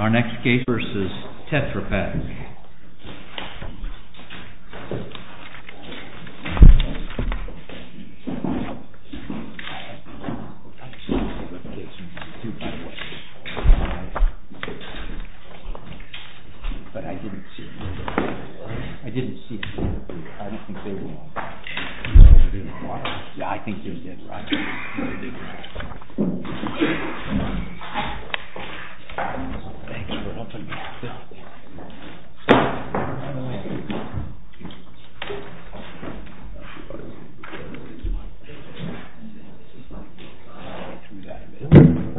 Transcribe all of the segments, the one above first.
Our next case v. TETRA PAK Thanks for helping me. Let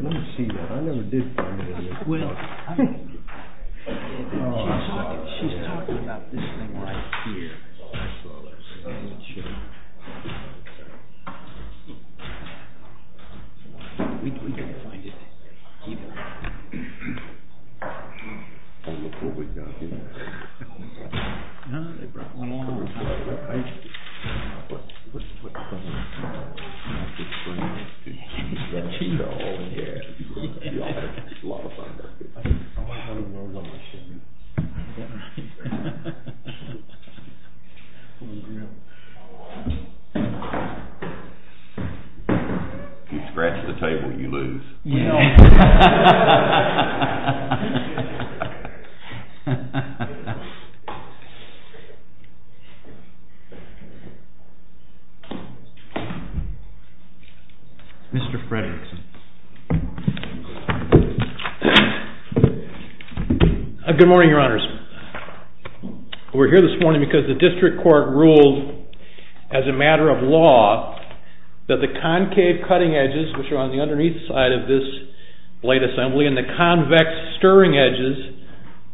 me see that. I never did find it anywhere. She's talking about this thing right here. That's all I saw last night. We couldn't find it either. Oh, look what we've got here. They brought one along with them. Oh, yeah. A lot of fun. I don't know how the world works anymore. Pull the grill. If you scratch the table, you lose. Mr. Fredricks. Good morning, your honors. We're here this morning because the district court ruled as a matter of law that the concave cutting edges which are on the underneath side of this blade assembly and the convex stirring edges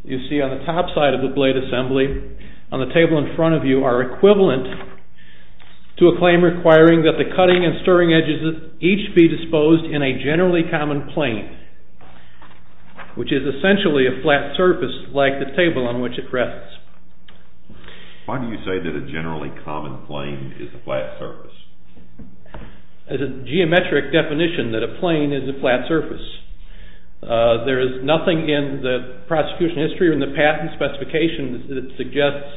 you see on the top side of the blade assembly on the table in front of you are equivalent to a claim requiring that the cutting and stirring edges each be disposed in a generally common plane which is essentially a flat surface like the table on which it rests. Why do you say that a generally common plane is a flat surface? It's a geometric definition that a plane is a flat surface. There is nothing in the prosecution history or in the patent specification that suggests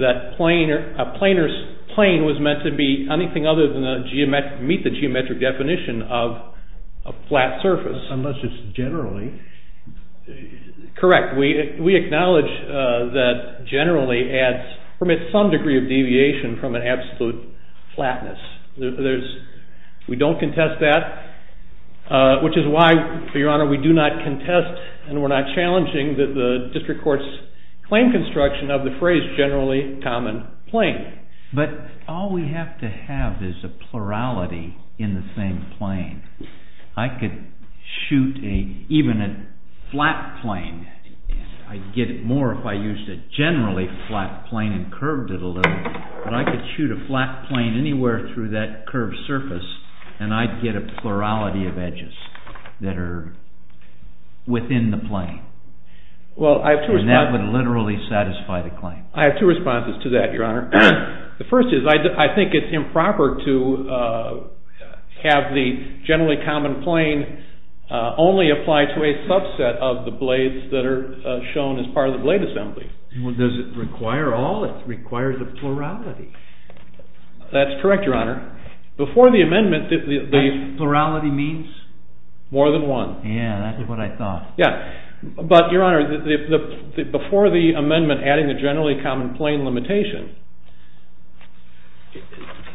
that a plane was meant to be anything other than meet the geometric definition of a flat surface. Unless it's generally. Correct. We acknowledge that generally adds, permits some degree of deviation from an absolute flatness. We don't contest that which is why, for your honor, we do not contest and we're not challenging the district court's claim construction of the phrase generally common plane. But all we have to have is a plurality in the same plane. I could shoot even a flat plane. I'd get it more if I used a generally flat plane and curved it a little. But I could shoot a flat plane anywhere through that curved surface and I'd get a plurality of edges that are within the plane. And that would literally satisfy the claim. I have two responses to that, your honor. The first is I think it's improper to have the generally common plane only apply to a subset of the blades that are shown as part of the blade assembly. Well, does it require all? It requires a plurality. That's correct, your honor. That plurality means? More than one. Yeah, that's what I thought. Yeah. But, your honor, before the amendment adding the generally common plane limitation,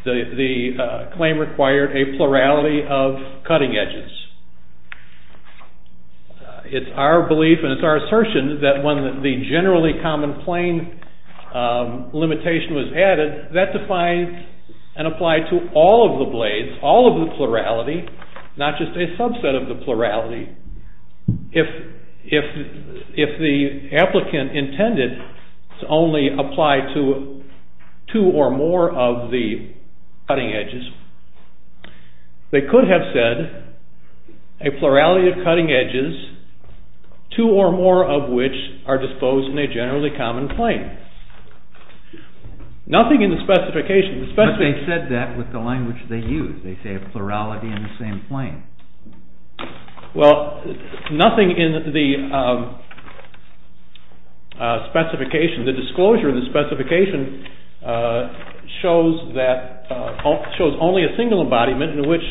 the claim required a plurality of cutting edges. It's our belief and it's our assertion that when the generally common plane limitation was added, that defines and applied to all of the blades, all of the plurality, not just a subset of the plurality. If the applicant intended to only apply to two or more of the cutting edges, they could have said a plurality of cutting edges, two or more of which are disposed in a generally common plane. Nothing in the specification. But they said that with the language they use. They say a plurality in the same plane. Well, nothing in the specification. The disclosure in the specification shows only a single embodiment in which,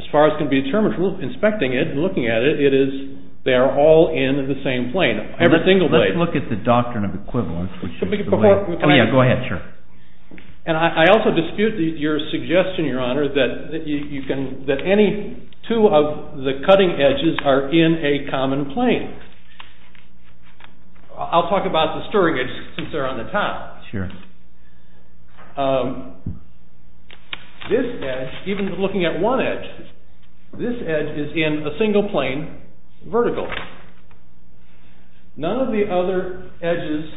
as far as can be determined from inspecting it and looking at it, it is they are all in the same plane, every single blade. Let's look at the doctrine of equivalence. Before, can I? Oh yeah, go ahead, sure. And I also dispute your suggestion, Your Honor, that any two of the cutting edges are in a common plane. I'll talk about the stirring edge since they're on the top. Sure. This edge, even looking at one edge, this edge is in a single plane, vertical. None of the other edges,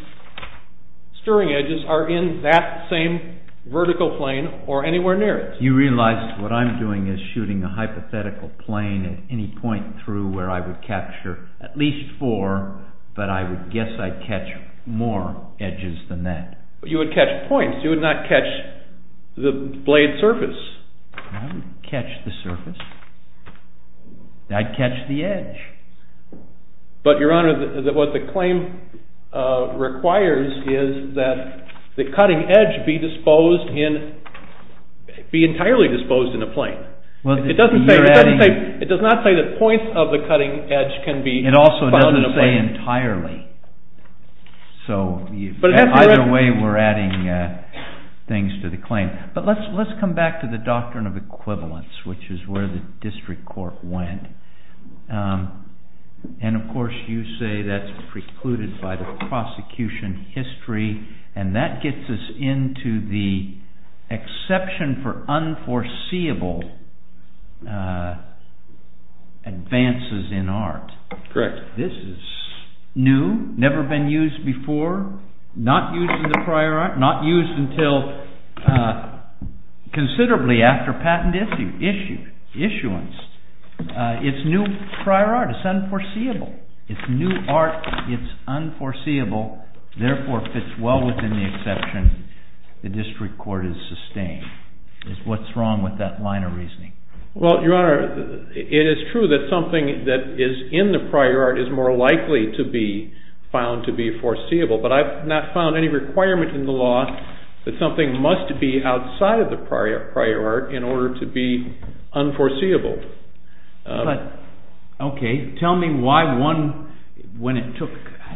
stirring edges, are in that same vertical plane or anywhere near it. You realize what I'm doing is shooting a hypothetical plane at any point through where I would capture at least four, but I would guess I'd catch more edges than that. But you would catch points. You would not catch the blade surface. I would catch the surface. I'd catch the edge. But, Your Honor, what the claim requires is that the cutting edge be entirely disposed in a plane. It does not say that points of the cutting edge can be found in a plane. It also doesn't say entirely. So either way, we're adding things to the claim. But let's come back to the doctrine of equivalence, which is where the district court went. And, of course, you say that's precluded by the prosecution history, and that gets us into the exception for unforeseeable advances in art. Correct. This is new, never been used before, not used in the prior art, not used until considerably after patent issuance. It's new prior art. It's unforeseeable. It's new art. It's unforeseeable, therefore fits well within the exception the district court has sustained. What's wrong with that line of reasoning? Well, Your Honor, it is true that something that is in the prior art is more likely to be found to be foreseeable, but I've not found any requirement in the law that something must be outside of the prior art in order to be unforeseeable. Okay. Tell me why one, when it took,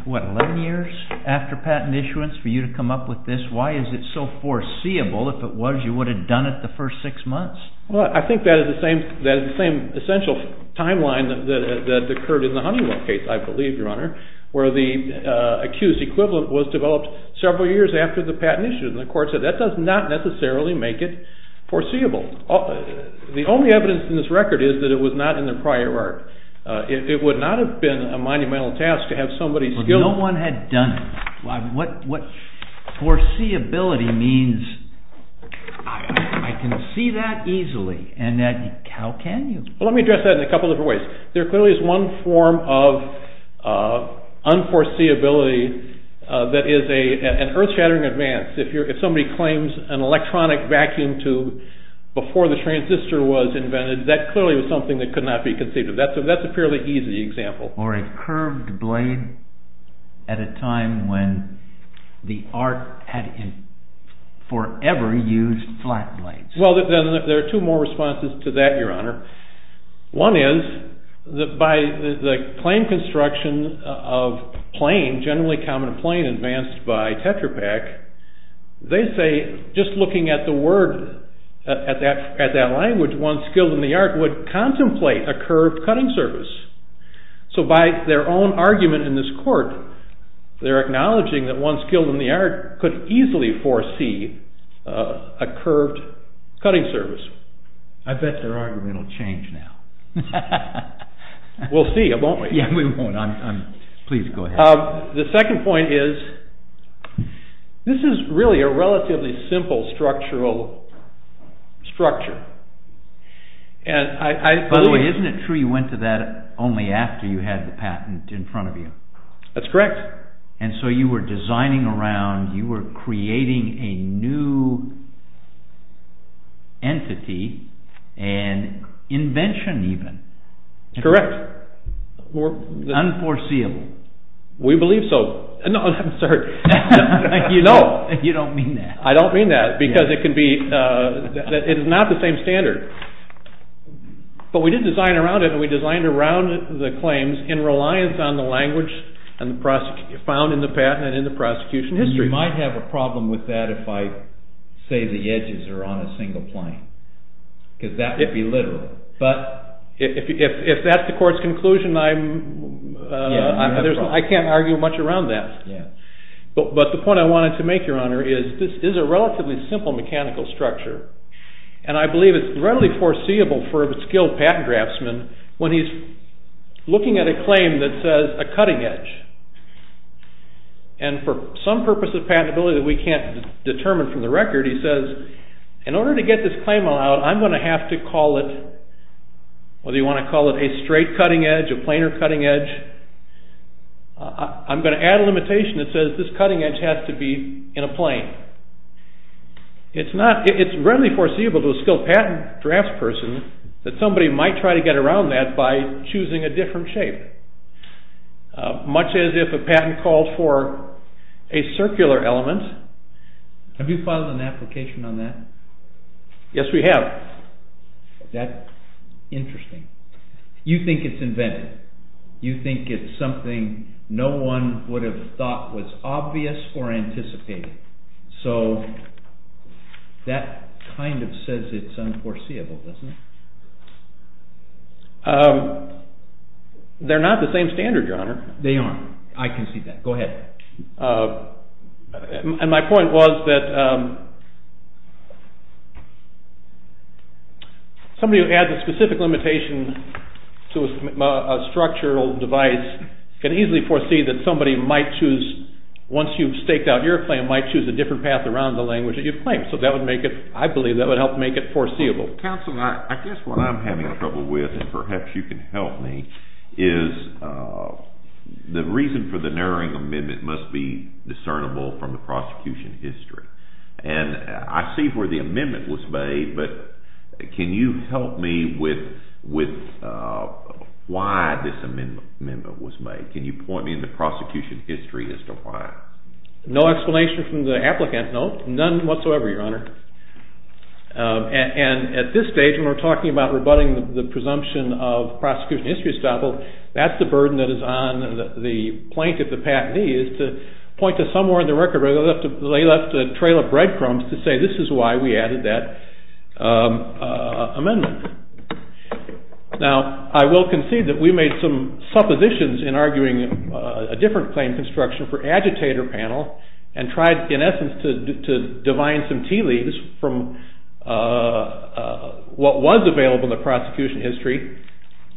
what, 11 years after patent issuance for you to come up with this, why is it so foreseeable? If it was, you would have done it the first six months. Well, I think that is the same essential timeline that occurred in the Honeywell case, I believe, Your Honor, where the accused equivalent was developed several years after the patent issuance. And the court said that does not necessarily make it foreseeable. The only evidence in this record is that it was not in the prior art. It would not have been a monumental task to have somebody skillful. Well, no one had done it. What foreseeability means, I can see that easily, and how can you? Well, let me address that in a couple different ways. There clearly is one form of unforeseeability that is an earth-shattering advance. If somebody claims an electronic vacuum tube before the transistor was invented, that clearly was something that could not be conceived of. That's a fairly easy example. Or a curved blade at a time when the art had forever used flat blades. Well, there are two more responses to that, Your Honor. One is that by the claim construction of plain, generally common plain advanced by Tetra Pak, they say just looking at the word, at that language, one skilled in the art would contemplate a curved cutting surface. So by their own argument in this court, they're acknowledging that one skilled in the art could easily foresee a curved cutting surface. I bet their argument will change now. We'll see, won't we? Yeah, we won't. Please go ahead. The second point is, this is really a relatively simple structural structure. By the way, isn't it true you went to that only after you had the patent in front of you? That's correct. And so you were designing around, you were creating a new entity and invention even. Correct. Unforeseeable. We believe so. No, I'm sorry. You don't mean that. I don't mean that because it is not the same standard. But we did design around it and we designed around the claims in reliance on the language found in the patent and in the prosecution history. You might have a problem with that if I say the edges are on a single plane because that would be literal. But if that's the court's conclusion, I can't argue much around that. But the point I wanted to make, Your Honor, is this is a relatively simple mechanical structure and I believe it's readily foreseeable for a skilled patent draftsman when he's looking at a claim that says a cutting edge. And for some purpose of patentability that we can't determine from the record, he says in order to get this claim allowed, I'm going to have to call it, whether you want to call it a straight cutting edge, a planar cutting edge, I'm going to add a limitation that says this cutting edge has to be in a plane. It's not, it's readily foreseeable to a skilled patent draftsperson that somebody might try to get around that by choosing a different shape. Much as if a patent called for a circular element. Have you filed an application on that? Yes, we have. That's interesting. You think it's invented. You think it's something no one would have thought was obvious or anticipated. So that kind of says it's unforeseeable, doesn't it? They're not the same standard, Your Honor. They are. I can see that. Go ahead. And my point was that somebody who adds a specific limitation to a structural device can easily foresee that somebody might choose, once you've staked out your claim, might choose a different path around the language that you've claimed. So that would make it, I believe that would help make it foreseeable. Counsel, I guess what I'm having trouble with, and perhaps you can help me, is the reason for the narrowing amendment must be discernible from the prosecution history. And I see where the amendment was made, but can you help me with why this amendment was made? Can you point me in the prosecution history as to why? No explanation from the applicant, no. None whatsoever, Your Honor. And at this stage, when we're talking about rebutting the presumption of prosecution history estoppel, that's the burden that is on the plaintiff, the patentee, is to point to somewhere in the record where they left a trail of breadcrumbs to say this is why we added that amendment. Now, I will concede that we made some suppositions in arguing a different claim construction for agitator panel and tried, in essence, to divine some tea leaves from what was available in the prosecution history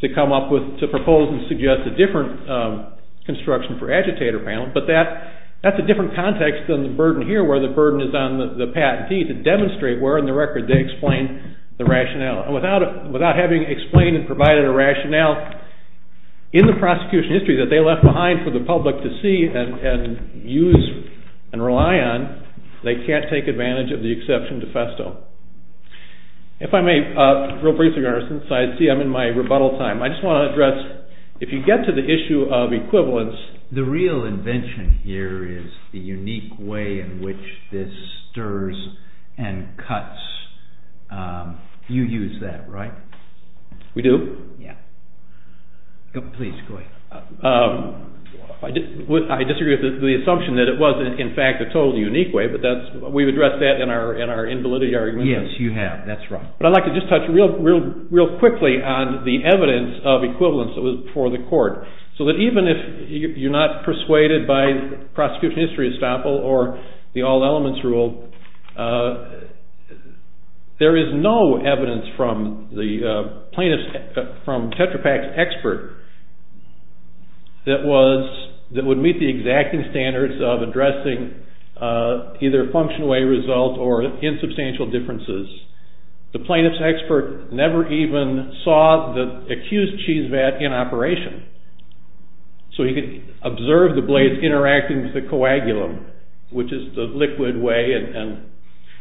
to come up with, to propose and suggest a different construction for agitator panel, but that's a different context than the burden here where the burden is on the patentee to demonstrate where in the record they explain the rationale. And without having explained and provided a rationale in the prosecution history that they left behind for the public to see and use and rely on, they can't take advantage of the exception de festo. If I may, real briefly, Your Honor, since I see I'm in my rebuttal time, I just want to address if you get to the issue of equivalence. The real invention here is the unique way in which this stirs and cuts. You use that, right? We do? Yeah. Please, go ahead. I disagree with the assumption that it was, in fact, a totally unique way, but we've addressed that in our invalidity argument. Yes, you have. That's right. But I'd like to just touch real quickly on the evidence of equivalence for the court so that even if you're not persuaded by prosecution history, for example, or the all elements rule, there is no evidence from the plaintiff's, from Tetra Pak's expert that was, that would meet the exacting standards of addressing either function away result or insubstantial differences. The plaintiff's expert never even saw the accused cheese vat in operation. So he could observe the blades interacting with the coagulum, which is the liquid way and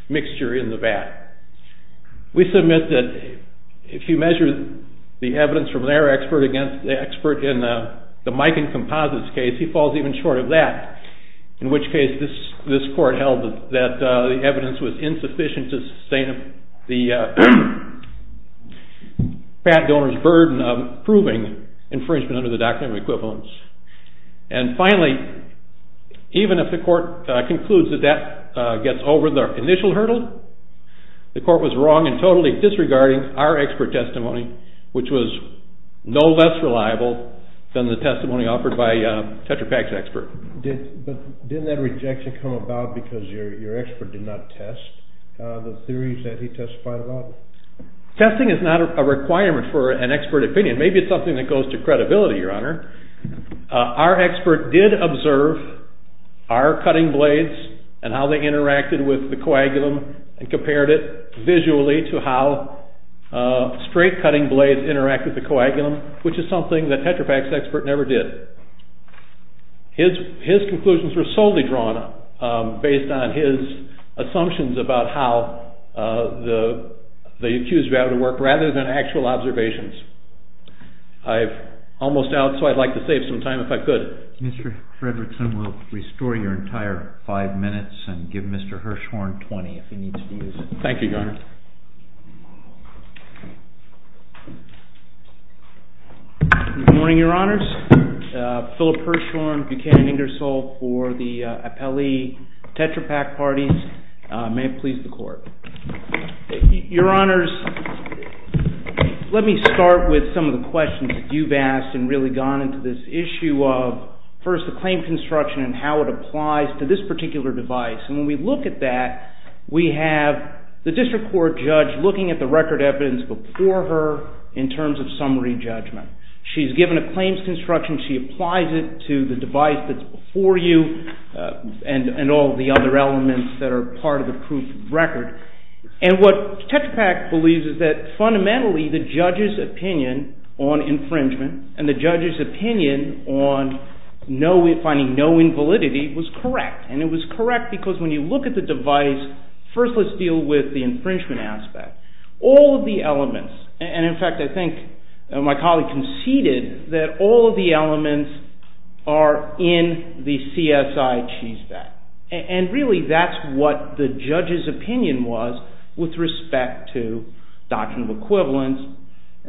mixture in the vat. We submit that if you measure the evidence from their expert against the expert in the Mike and Composites case, he falls even short of that, in which case this court held that the evidence was insufficient to sustain the patent donor's burden of proving infringement under the doctrine of equivalence. And finally, even if the court concludes that that gets over the initial hurdle, the court was wrong in totally disregarding our expert testimony, which was no less reliable than the testimony offered by Tetra Pak's expert. But didn't that rejection come about because your expert did not test the theories that he testified about? Testing is not a requirement for an expert opinion. Maybe it's something that goes to credibility, Your Honor. Our expert did observe our cutting blades and how they interacted with the coagulum and compared it visually to how straight cutting blades interact with the coagulum, which is something that Tetra Pak's expert never did. His conclusions were solely drawn based on his assumptions about how the cues were able to work rather than actual observations. I'm almost out, so I'd like to save some time if I could. Mr. Fredrickson, we'll restore your entire five minutes and give Mr. Hirshhorn 20 if he needs to use it. Thank you, Your Honor. Good morning, Your Honors. Philip Hirshhorn, Buchanan Ingersoll for the appellee Tetra Pak parties. May it please the Court. Your Honors, let me start with some of the questions that you've asked and really gone into this issue of, first, the claim construction and how it applies to this particular device. When we look at that, we have the district court judge looking at the record evidence before her in terms of summary judgment. She's given a claims construction. She applies it to the device that's before you and all the other elements that are part of the proof of record. What Tetra Pak believes is that fundamentally the judge's opinion on infringement and the judge's opinion on finding no invalidity was correct. And it was correct because when you look at the device, first let's deal with the infringement aspect. All of the elements, and in fact I think my colleague conceded that all of the elements are in the CSI cheese bag. And really that's what the judge's opinion was with respect to doctrinal equivalence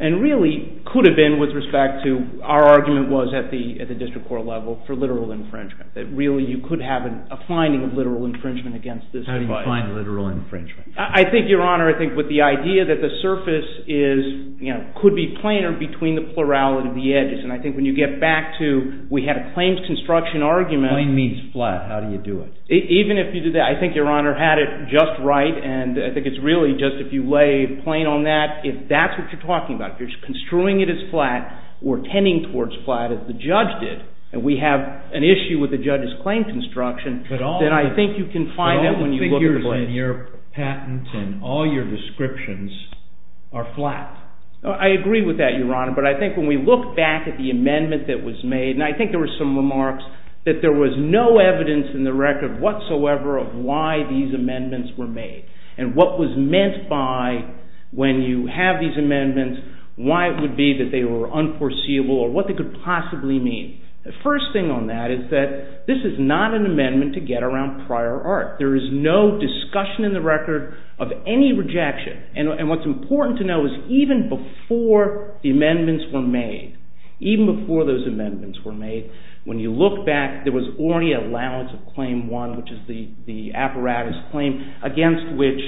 and really could have been with respect to our argument was at the district court level for literal infringement. That really you could have a finding of literal infringement against this device. How do you find literal infringement? I think, Your Honor, I think with the idea that the surface could be planar between the plurality of the edges. And I think when you get back to we had a claims construction argument. Plane means flat. How do you do it? Even if you do that, I think Your Honor had it just right. And I think it's really just if you lay plain on that, if that's what you're talking about, if you're construing it as flat or tending towards flat as the judge did, and we have an issue with the judge's claim construction, then I think you can find that when you look at the plane. But all the figures in your patent and all your descriptions are flat. I agree with that, Your Honor, but I think when we look back at the amendment that was made, and I think there were some remarks that there was no evidence in the record whatsoever of why these amendments were made. And what was meant by when you have these amendments, why it would be that they were unforeseeable or what they could possibly mean. The first thing on that is that this is not an amendment to get around prior art. There is no discussion in the record of any rejection. And what's important to know is even before the amendments were made, even before those amendments were made, when you look back, there was already allowance of Claim 1, which is the apparatus claim, against which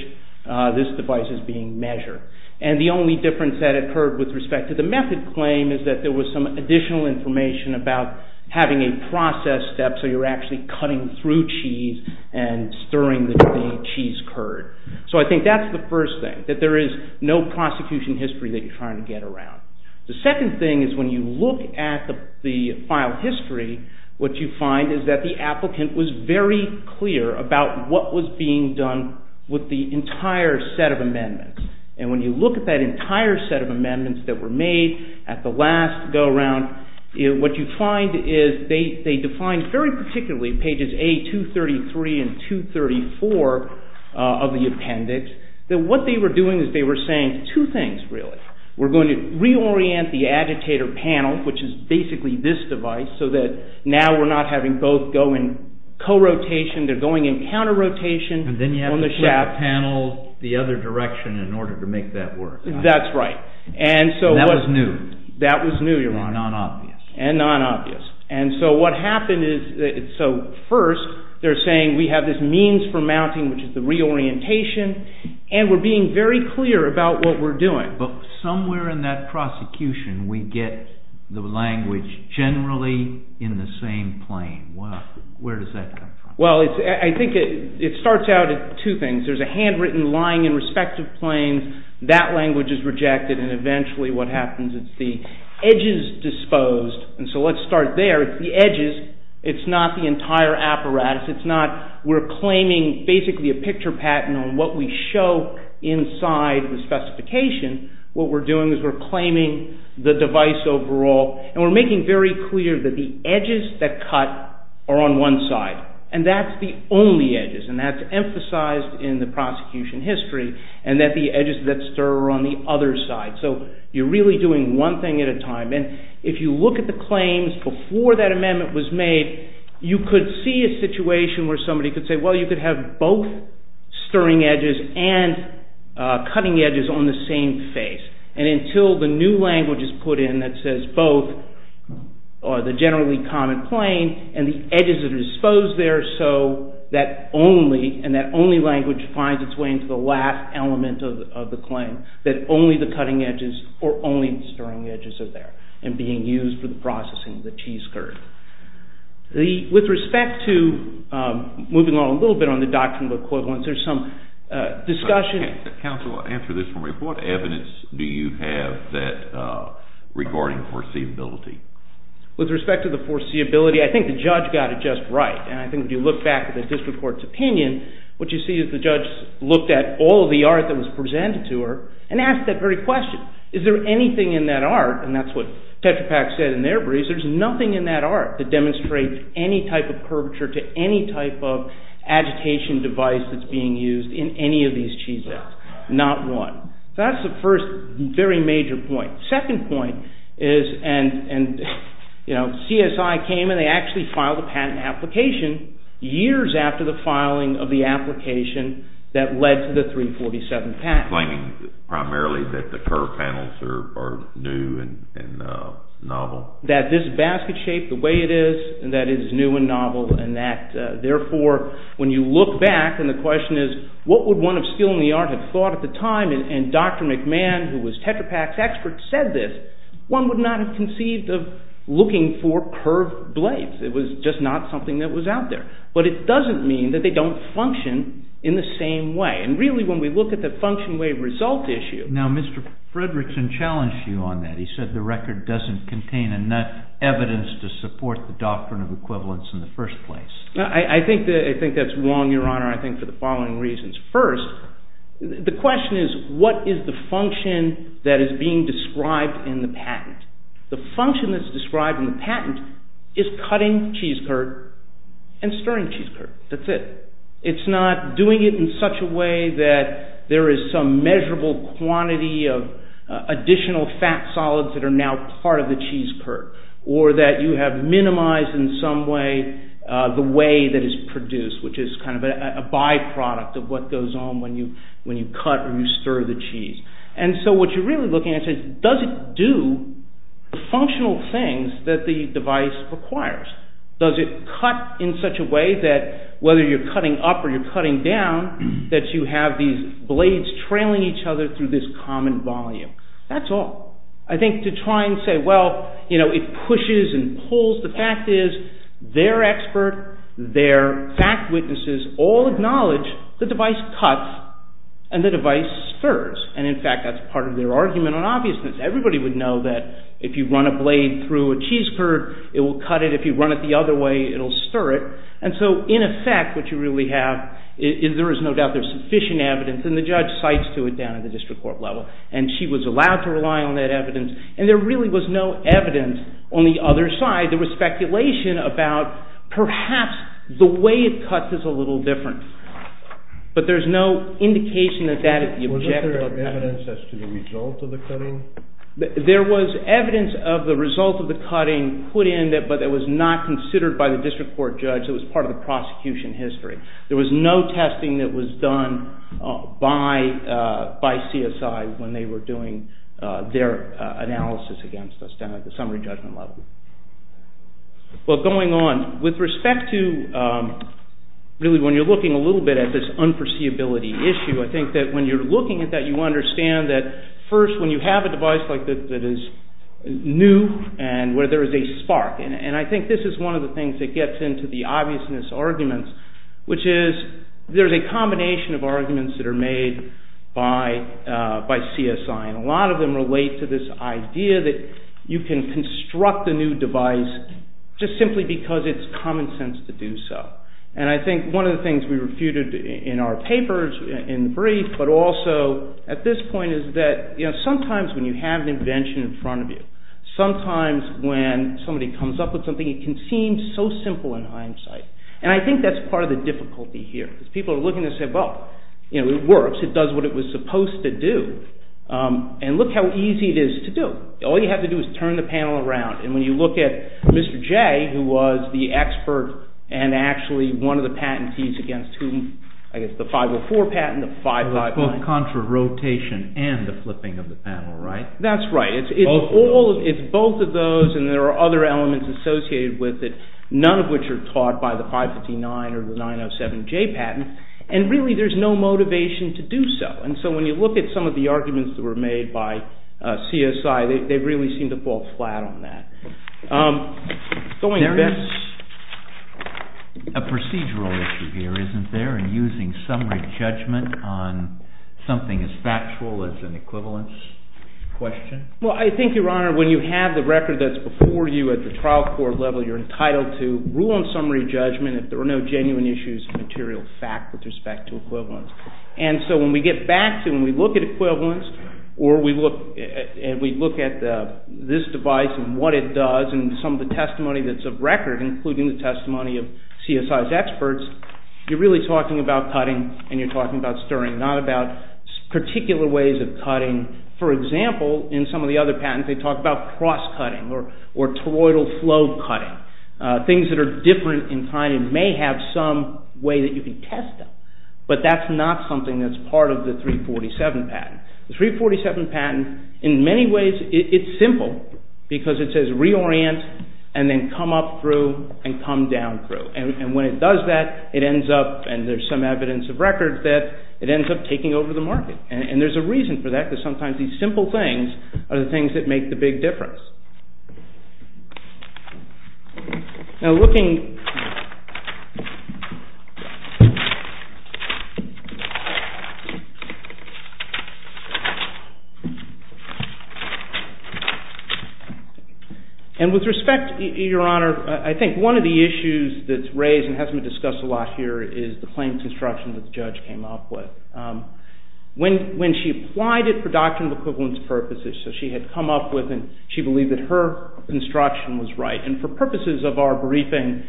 this device is being measured. And the only difference that occurred with respect to the method claim is that there was some additional information about having a process step so you're actually cutting through cheese and stirring the cheese curd. So I think that's the first thing, that there is no prosecution history that you're trying to get around. The second thing is when you look at the file history, what you find is that the applicant was very clear about what was being done with the entire set of amendments. And when you look at that entire set of amendments that were made at the last go-around, what you find is they defined very particularly pages A233 and 234 of the appendix, that what they were doing is they were saying two things really. We're going to reorient the agitator panel, which is basically this device, so that now we're not having both go in co-rotation, they're going in counter-rotation on the shaft. And then you have to flip the panel the other direction in order to make that work. That's right. And that was new. That was new, Your Honor. And non-obvious. And non-obvious. And so what happened is, so first they're saying we have this means for mounting, which is the reorientation, and we're being very clear about what we're doing. But somewhere in that prosecution we get the language generally in the same plane. Where does that come from? Well, I think it starts out at two things. There's a handwritten lying in respective planes. That language is rejected, and eventually what happens, it's the edges disposed. And so let's start there. It's the edges. It's not the entire apparatus. It's not we're claiming basically a picture patent on what we show inside the specification. What we're doing is we're claiming the device overall, and we're making very clear that the edges that cut are on one side, and that's the only edges, and that's emphasized in the prosecution history, and that the edges that stir are on the other side. So you're really doing one thing at a time. And if you look at the claims before that amendment was made, you could see a situation where somebody could say, well, you could have both stirring edges and cutting edges on the same face. And until the new language is put in that says both, or the generally common plane, and the edges that are disposed there so that only, language finds its way into the last element of the claim, that only the cutting edges or only stirring edges are there and being used for the processing of the cheese curd. With respect to moving on a little bit on the doctrinal equivalence, there's some discussion. Counsel, answer this for me. What evidence do you have regarding foreseeability? With respect to the foreseeability, I think the judge got it just right, and I think if you look back at the district court's opinion, what you see is the judge looked at all of the art that was presented to her and asked that very question. Is there anything in that art, and that's what Tetra Pak said in their brief, there's nothing in that art that demonstrates any type of curvature to any type of agitation device that's being used in any of these cheeses. Not one. That's the first very major point. Second point is, and, you know, CSI came and they actually filed a patent application years after the filing of the application that led to the 347 patent. Claiming primarily that the curve panels are new and novel. That this basket shape, the way it is, that it is new and novel, and that, therefore, when you look back, and the question is what would one of skill in the art have thought at the time, and Dr. McMahon, who was Tetra Pak's expert, said this, one would not have conceived of looking for curved blades. It was just not something that was out there. But it doesn't mean that they don't function in the same way. And, really, when we look at the function wave result issue. Now, Mr. Fredrickson challenged you on that. He said the record doesn't contain enough evidence to support the doctrine of equivalence in the first place. I think that's wrong, Your Honor, I think for the following reasons. First, the question is, what is the function that is being described in the patent? The function that is described in the patent is cutting cheese curd and stirring cheese curd. That's it. It's not doing it in such a way that there is some measurable quantity of additional fat solids that are now part of the cheese curd, or that you have minimized in some way the whey that is produced, which is kind of a byproduct of what goes on when you cut or you stir the cheese. And so what you're really looking at is, does it do the functional things that the device requires? Does it cut in such a way that, whether you're cutting up or you're cutting down, that you have these blades trailing each other through this common volume? That's all. I think to try and say, well, you know, it pushes and pulls. The fact is, their expert, their fact witnesses, all acknowledge the device cuts and the device stirs. And, in fact, that's part of their argument on obviousness. Everybody would know that if you run a blade through a cheese curd, it will cut it. If you run it the other way, it will stir it. And so, in effect, what you really have is there is no doubt there is sufficient evidence, and the judge cites to it down at the district court level. And she was allowed to rely on that evidence. And there really was no evidence on the other side. There was speculation about perhaps the way it cuts is a little different. But there's no indication that that is the objective. Wasn't there evidence as to the result of the cutting? There was evidence of the result of the cutting put in, but it was not considered by the district court judge. It was part of the prosecution history. There was no testing that was done by CSI when they were doing their analysis against us down at the summary judgment level. Well, going on, with respect to really when you're looking a little bit at this unforeseeability issue, I think that when you're looking at that, you understand that first when you have a device like this that is new and where there is a spark, and I think this is one of the things that gets into the obviousness arguments, which is there's a combination of arguments that are made by CSI, and a lot of them relate to this idea that you can construct a new device just simply because it's common sense to do so. And I think one of the things we refuted in our papers, in the brief, but also at this point, is that sometimes when you have an invention in front of you, sometimes when somebody comes up with something, it can seem so simple in hindsight. And I think that's part of the difficulty here. People are looking and saying, well, it works. It does what it was supposed to do. And look how easy it is to do. All you have to do is turn the panel around, and when you look at Mr. J, who was the expert and actually one of the patentees against the 504 patent, the 559. Contra rotation and the flipping of the panel, right? That's right. It's both of those, and there are other elements associated with it, none of which are taught by the 559 or the 907J patent, and really there's no motivation to do so. And so when you look at some of the arguments that were made by CSI, they really seem to fall flat on that. There is a procedural issue here, isn't there, in using summary judgment on something as factual as an equivalence question? Well, I think, Your Honor, when you have the record that's before you at the trial court level, you're entitled to rule on summary judgment if there are no genuine issues of material fact with respect to equivalence. And so when we get back to it and we look at equivalence or we look at this device and what it does and some of the testimony that's of record, including the testimony of CSI's experts, you're really talking about cutting and you're talking about stirring, not about particular ways of cutting. For example, in some of the other patents, they talk about cross-cutting or toroidal flow cutting, things that are different in kind and may have some way that you can test them, but that's not something that's part of the 347 patent. The 347 patent, in many ways, it's simple because it says reorient and then come up through and come down through. And when it does that, it ends up, and there's some evidence of record, that it ends up taking over the market. And there's a reason for that, because sometimes these simple things are the things that make the big difference. Now, looking... And with respect, Your Honor, I think one of the issues that's raised and hasn't been discussed a lot here is the plain construction that the judge came up with. When she applied it for doctrinal equivalence purposes, so she had come up with and she believed that her construction was right. And for purposes of our briefing,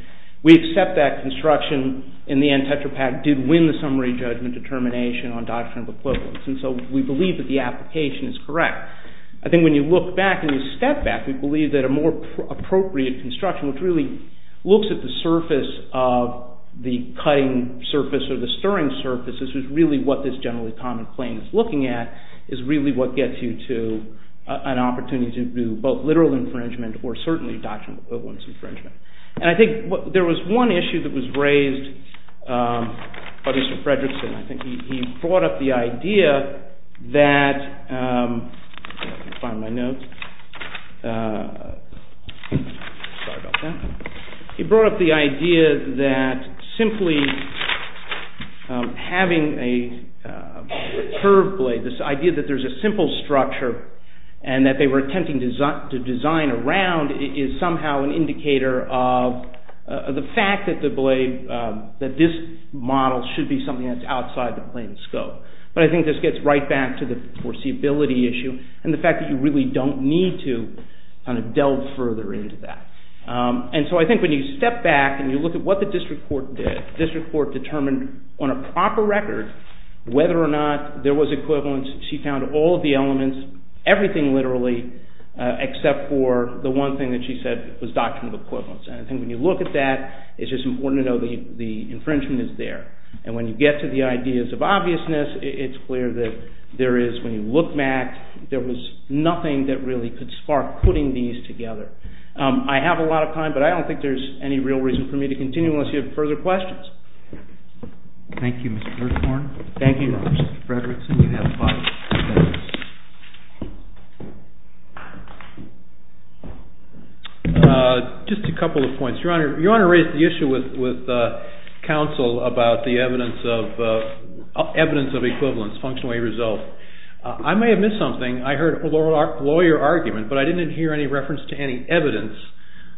we accept that construction, in the end, Tetra Pak, did win the summary judgment determination on doctrinal equivalence. And so we believe that the application is correct. I think when you look back and you step back, we believe that a more appropriate construction, which really looks at the surface of the cutting surface or the stirring surface, which is really what this generally common plain is looking at, is really what gets you to an opportunity to do both literal infringement or certainly doctrinal equivalence infringement. And I think there was one issue that was raised by Mr. Fredrickson. I think he brought up the idea that... He brought up the idea that simply having a curved blade, this idea that there's a simple structure and that they were attempting to design around is somehow an indicator of the fact that this model should be something that's outside the plain scope. But I think this gets right back to the foreseeability issue and the fact that you really don't need to kind of delve further into that. And so I think when you step back and you look at what the district court did, the district court determined on a proper record whether or not there was equivalence. She found all of the elements, everything literally, except for the one thing that she said was doctrinal equivalence. And I think when you look at that, it's just important to know the infringement is there. And when you get to the ideas of obviousness, it's clear that there is, when you look back, there was nothing that really could spark putting these together. I have a lot of time, but I don't think there's any real reason for me to continue unless you have further questions. Thank you, Mr. Gerthorn. Thank you, Mr. Frederickson. You have five minutes. Just a couple of points. Your Honor, you want to raise the issue with counsel about the evidence of equivalence, functionally resolved. I may have missed something. I heard a lawyer argument, but I didn't hear any reference to any evidence.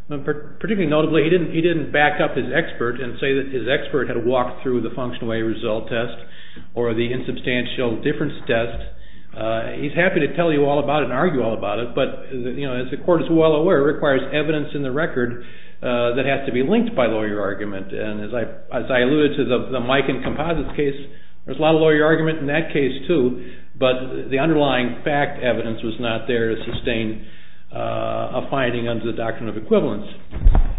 Particularly notably, he didn't back up his expert and say that his expert had walked through the functional way result test or the insubstantial difference test. He's happy to tell you all about it and argue all about it, but as the Court is well aware, it requires evidence in the record that has to be linked by lawyer argument. And as I alluded to, the Mike and Composites case, there's a lot of lawyer argument in that case too, but the underlying fact evidence was not there to sustain a finding under the doctrine of equivalence.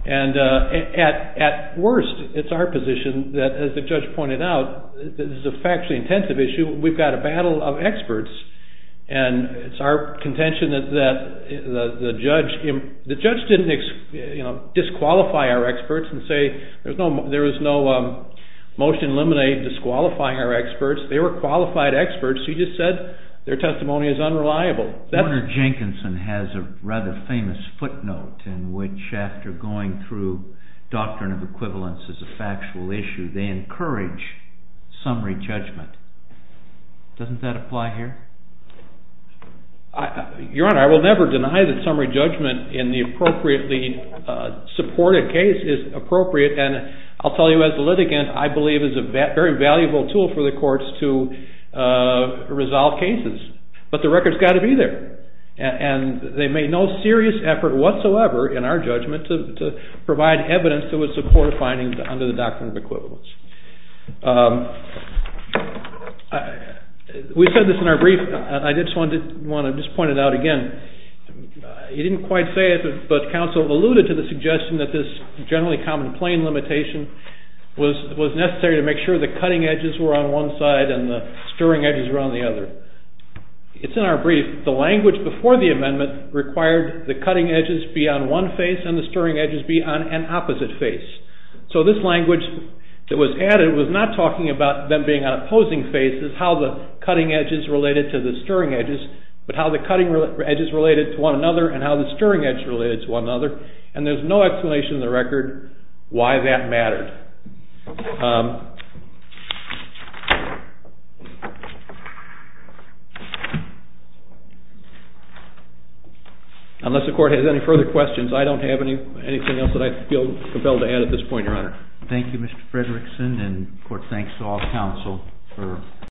At worst, it's our position that, as the judge pointed out, this is a factually intensive issue. We've got a battle of experts, and it's our contention that the judge didn't disqualify our experts and say there was no motion eliminating disqualifying our experts. They were qualified experts. He just said their testimony is unreliable. Warner Jenkinson has a rather famous footnote in which after going through doctrine of equivalence as a factual issue, they encourage summary judgment. Doesn't that apply here? Your Honor, I will never deny that summary judgment in the appropriately supported case is appropriate, and I'll tell you as a litigant, I believe it's a very valuable tool for the courts to resolve cases. But the record's got to be there, and they made no serious effort whatsoever in our judgment to provide evidence that would support findings under the doctrine of equivalence. We said this in our brief, and I just want to point it out again. You didn't quite say it, but counsel alluded to the suggestion that this generally common plain limitation was necessary to make sure the cutting edges were on one side and the stirring edges were on the other. It's in our brief. The language before the amendment required the cutting edges be on one face and the stirring edges be on an opposite face. So this language that was added was not talking about them being on opposing faces, how the cutting edges related to the stirring edges, but how the cutting edges related to one another and how the stirring edges related to one another, and there's no explanation in the record why that mattered. Unless the court has any further questions, I don't have anything else that I feel compelled to add at this point, Your Honor. Thank you, Mr. Frederickson, and the court thanks all counsel.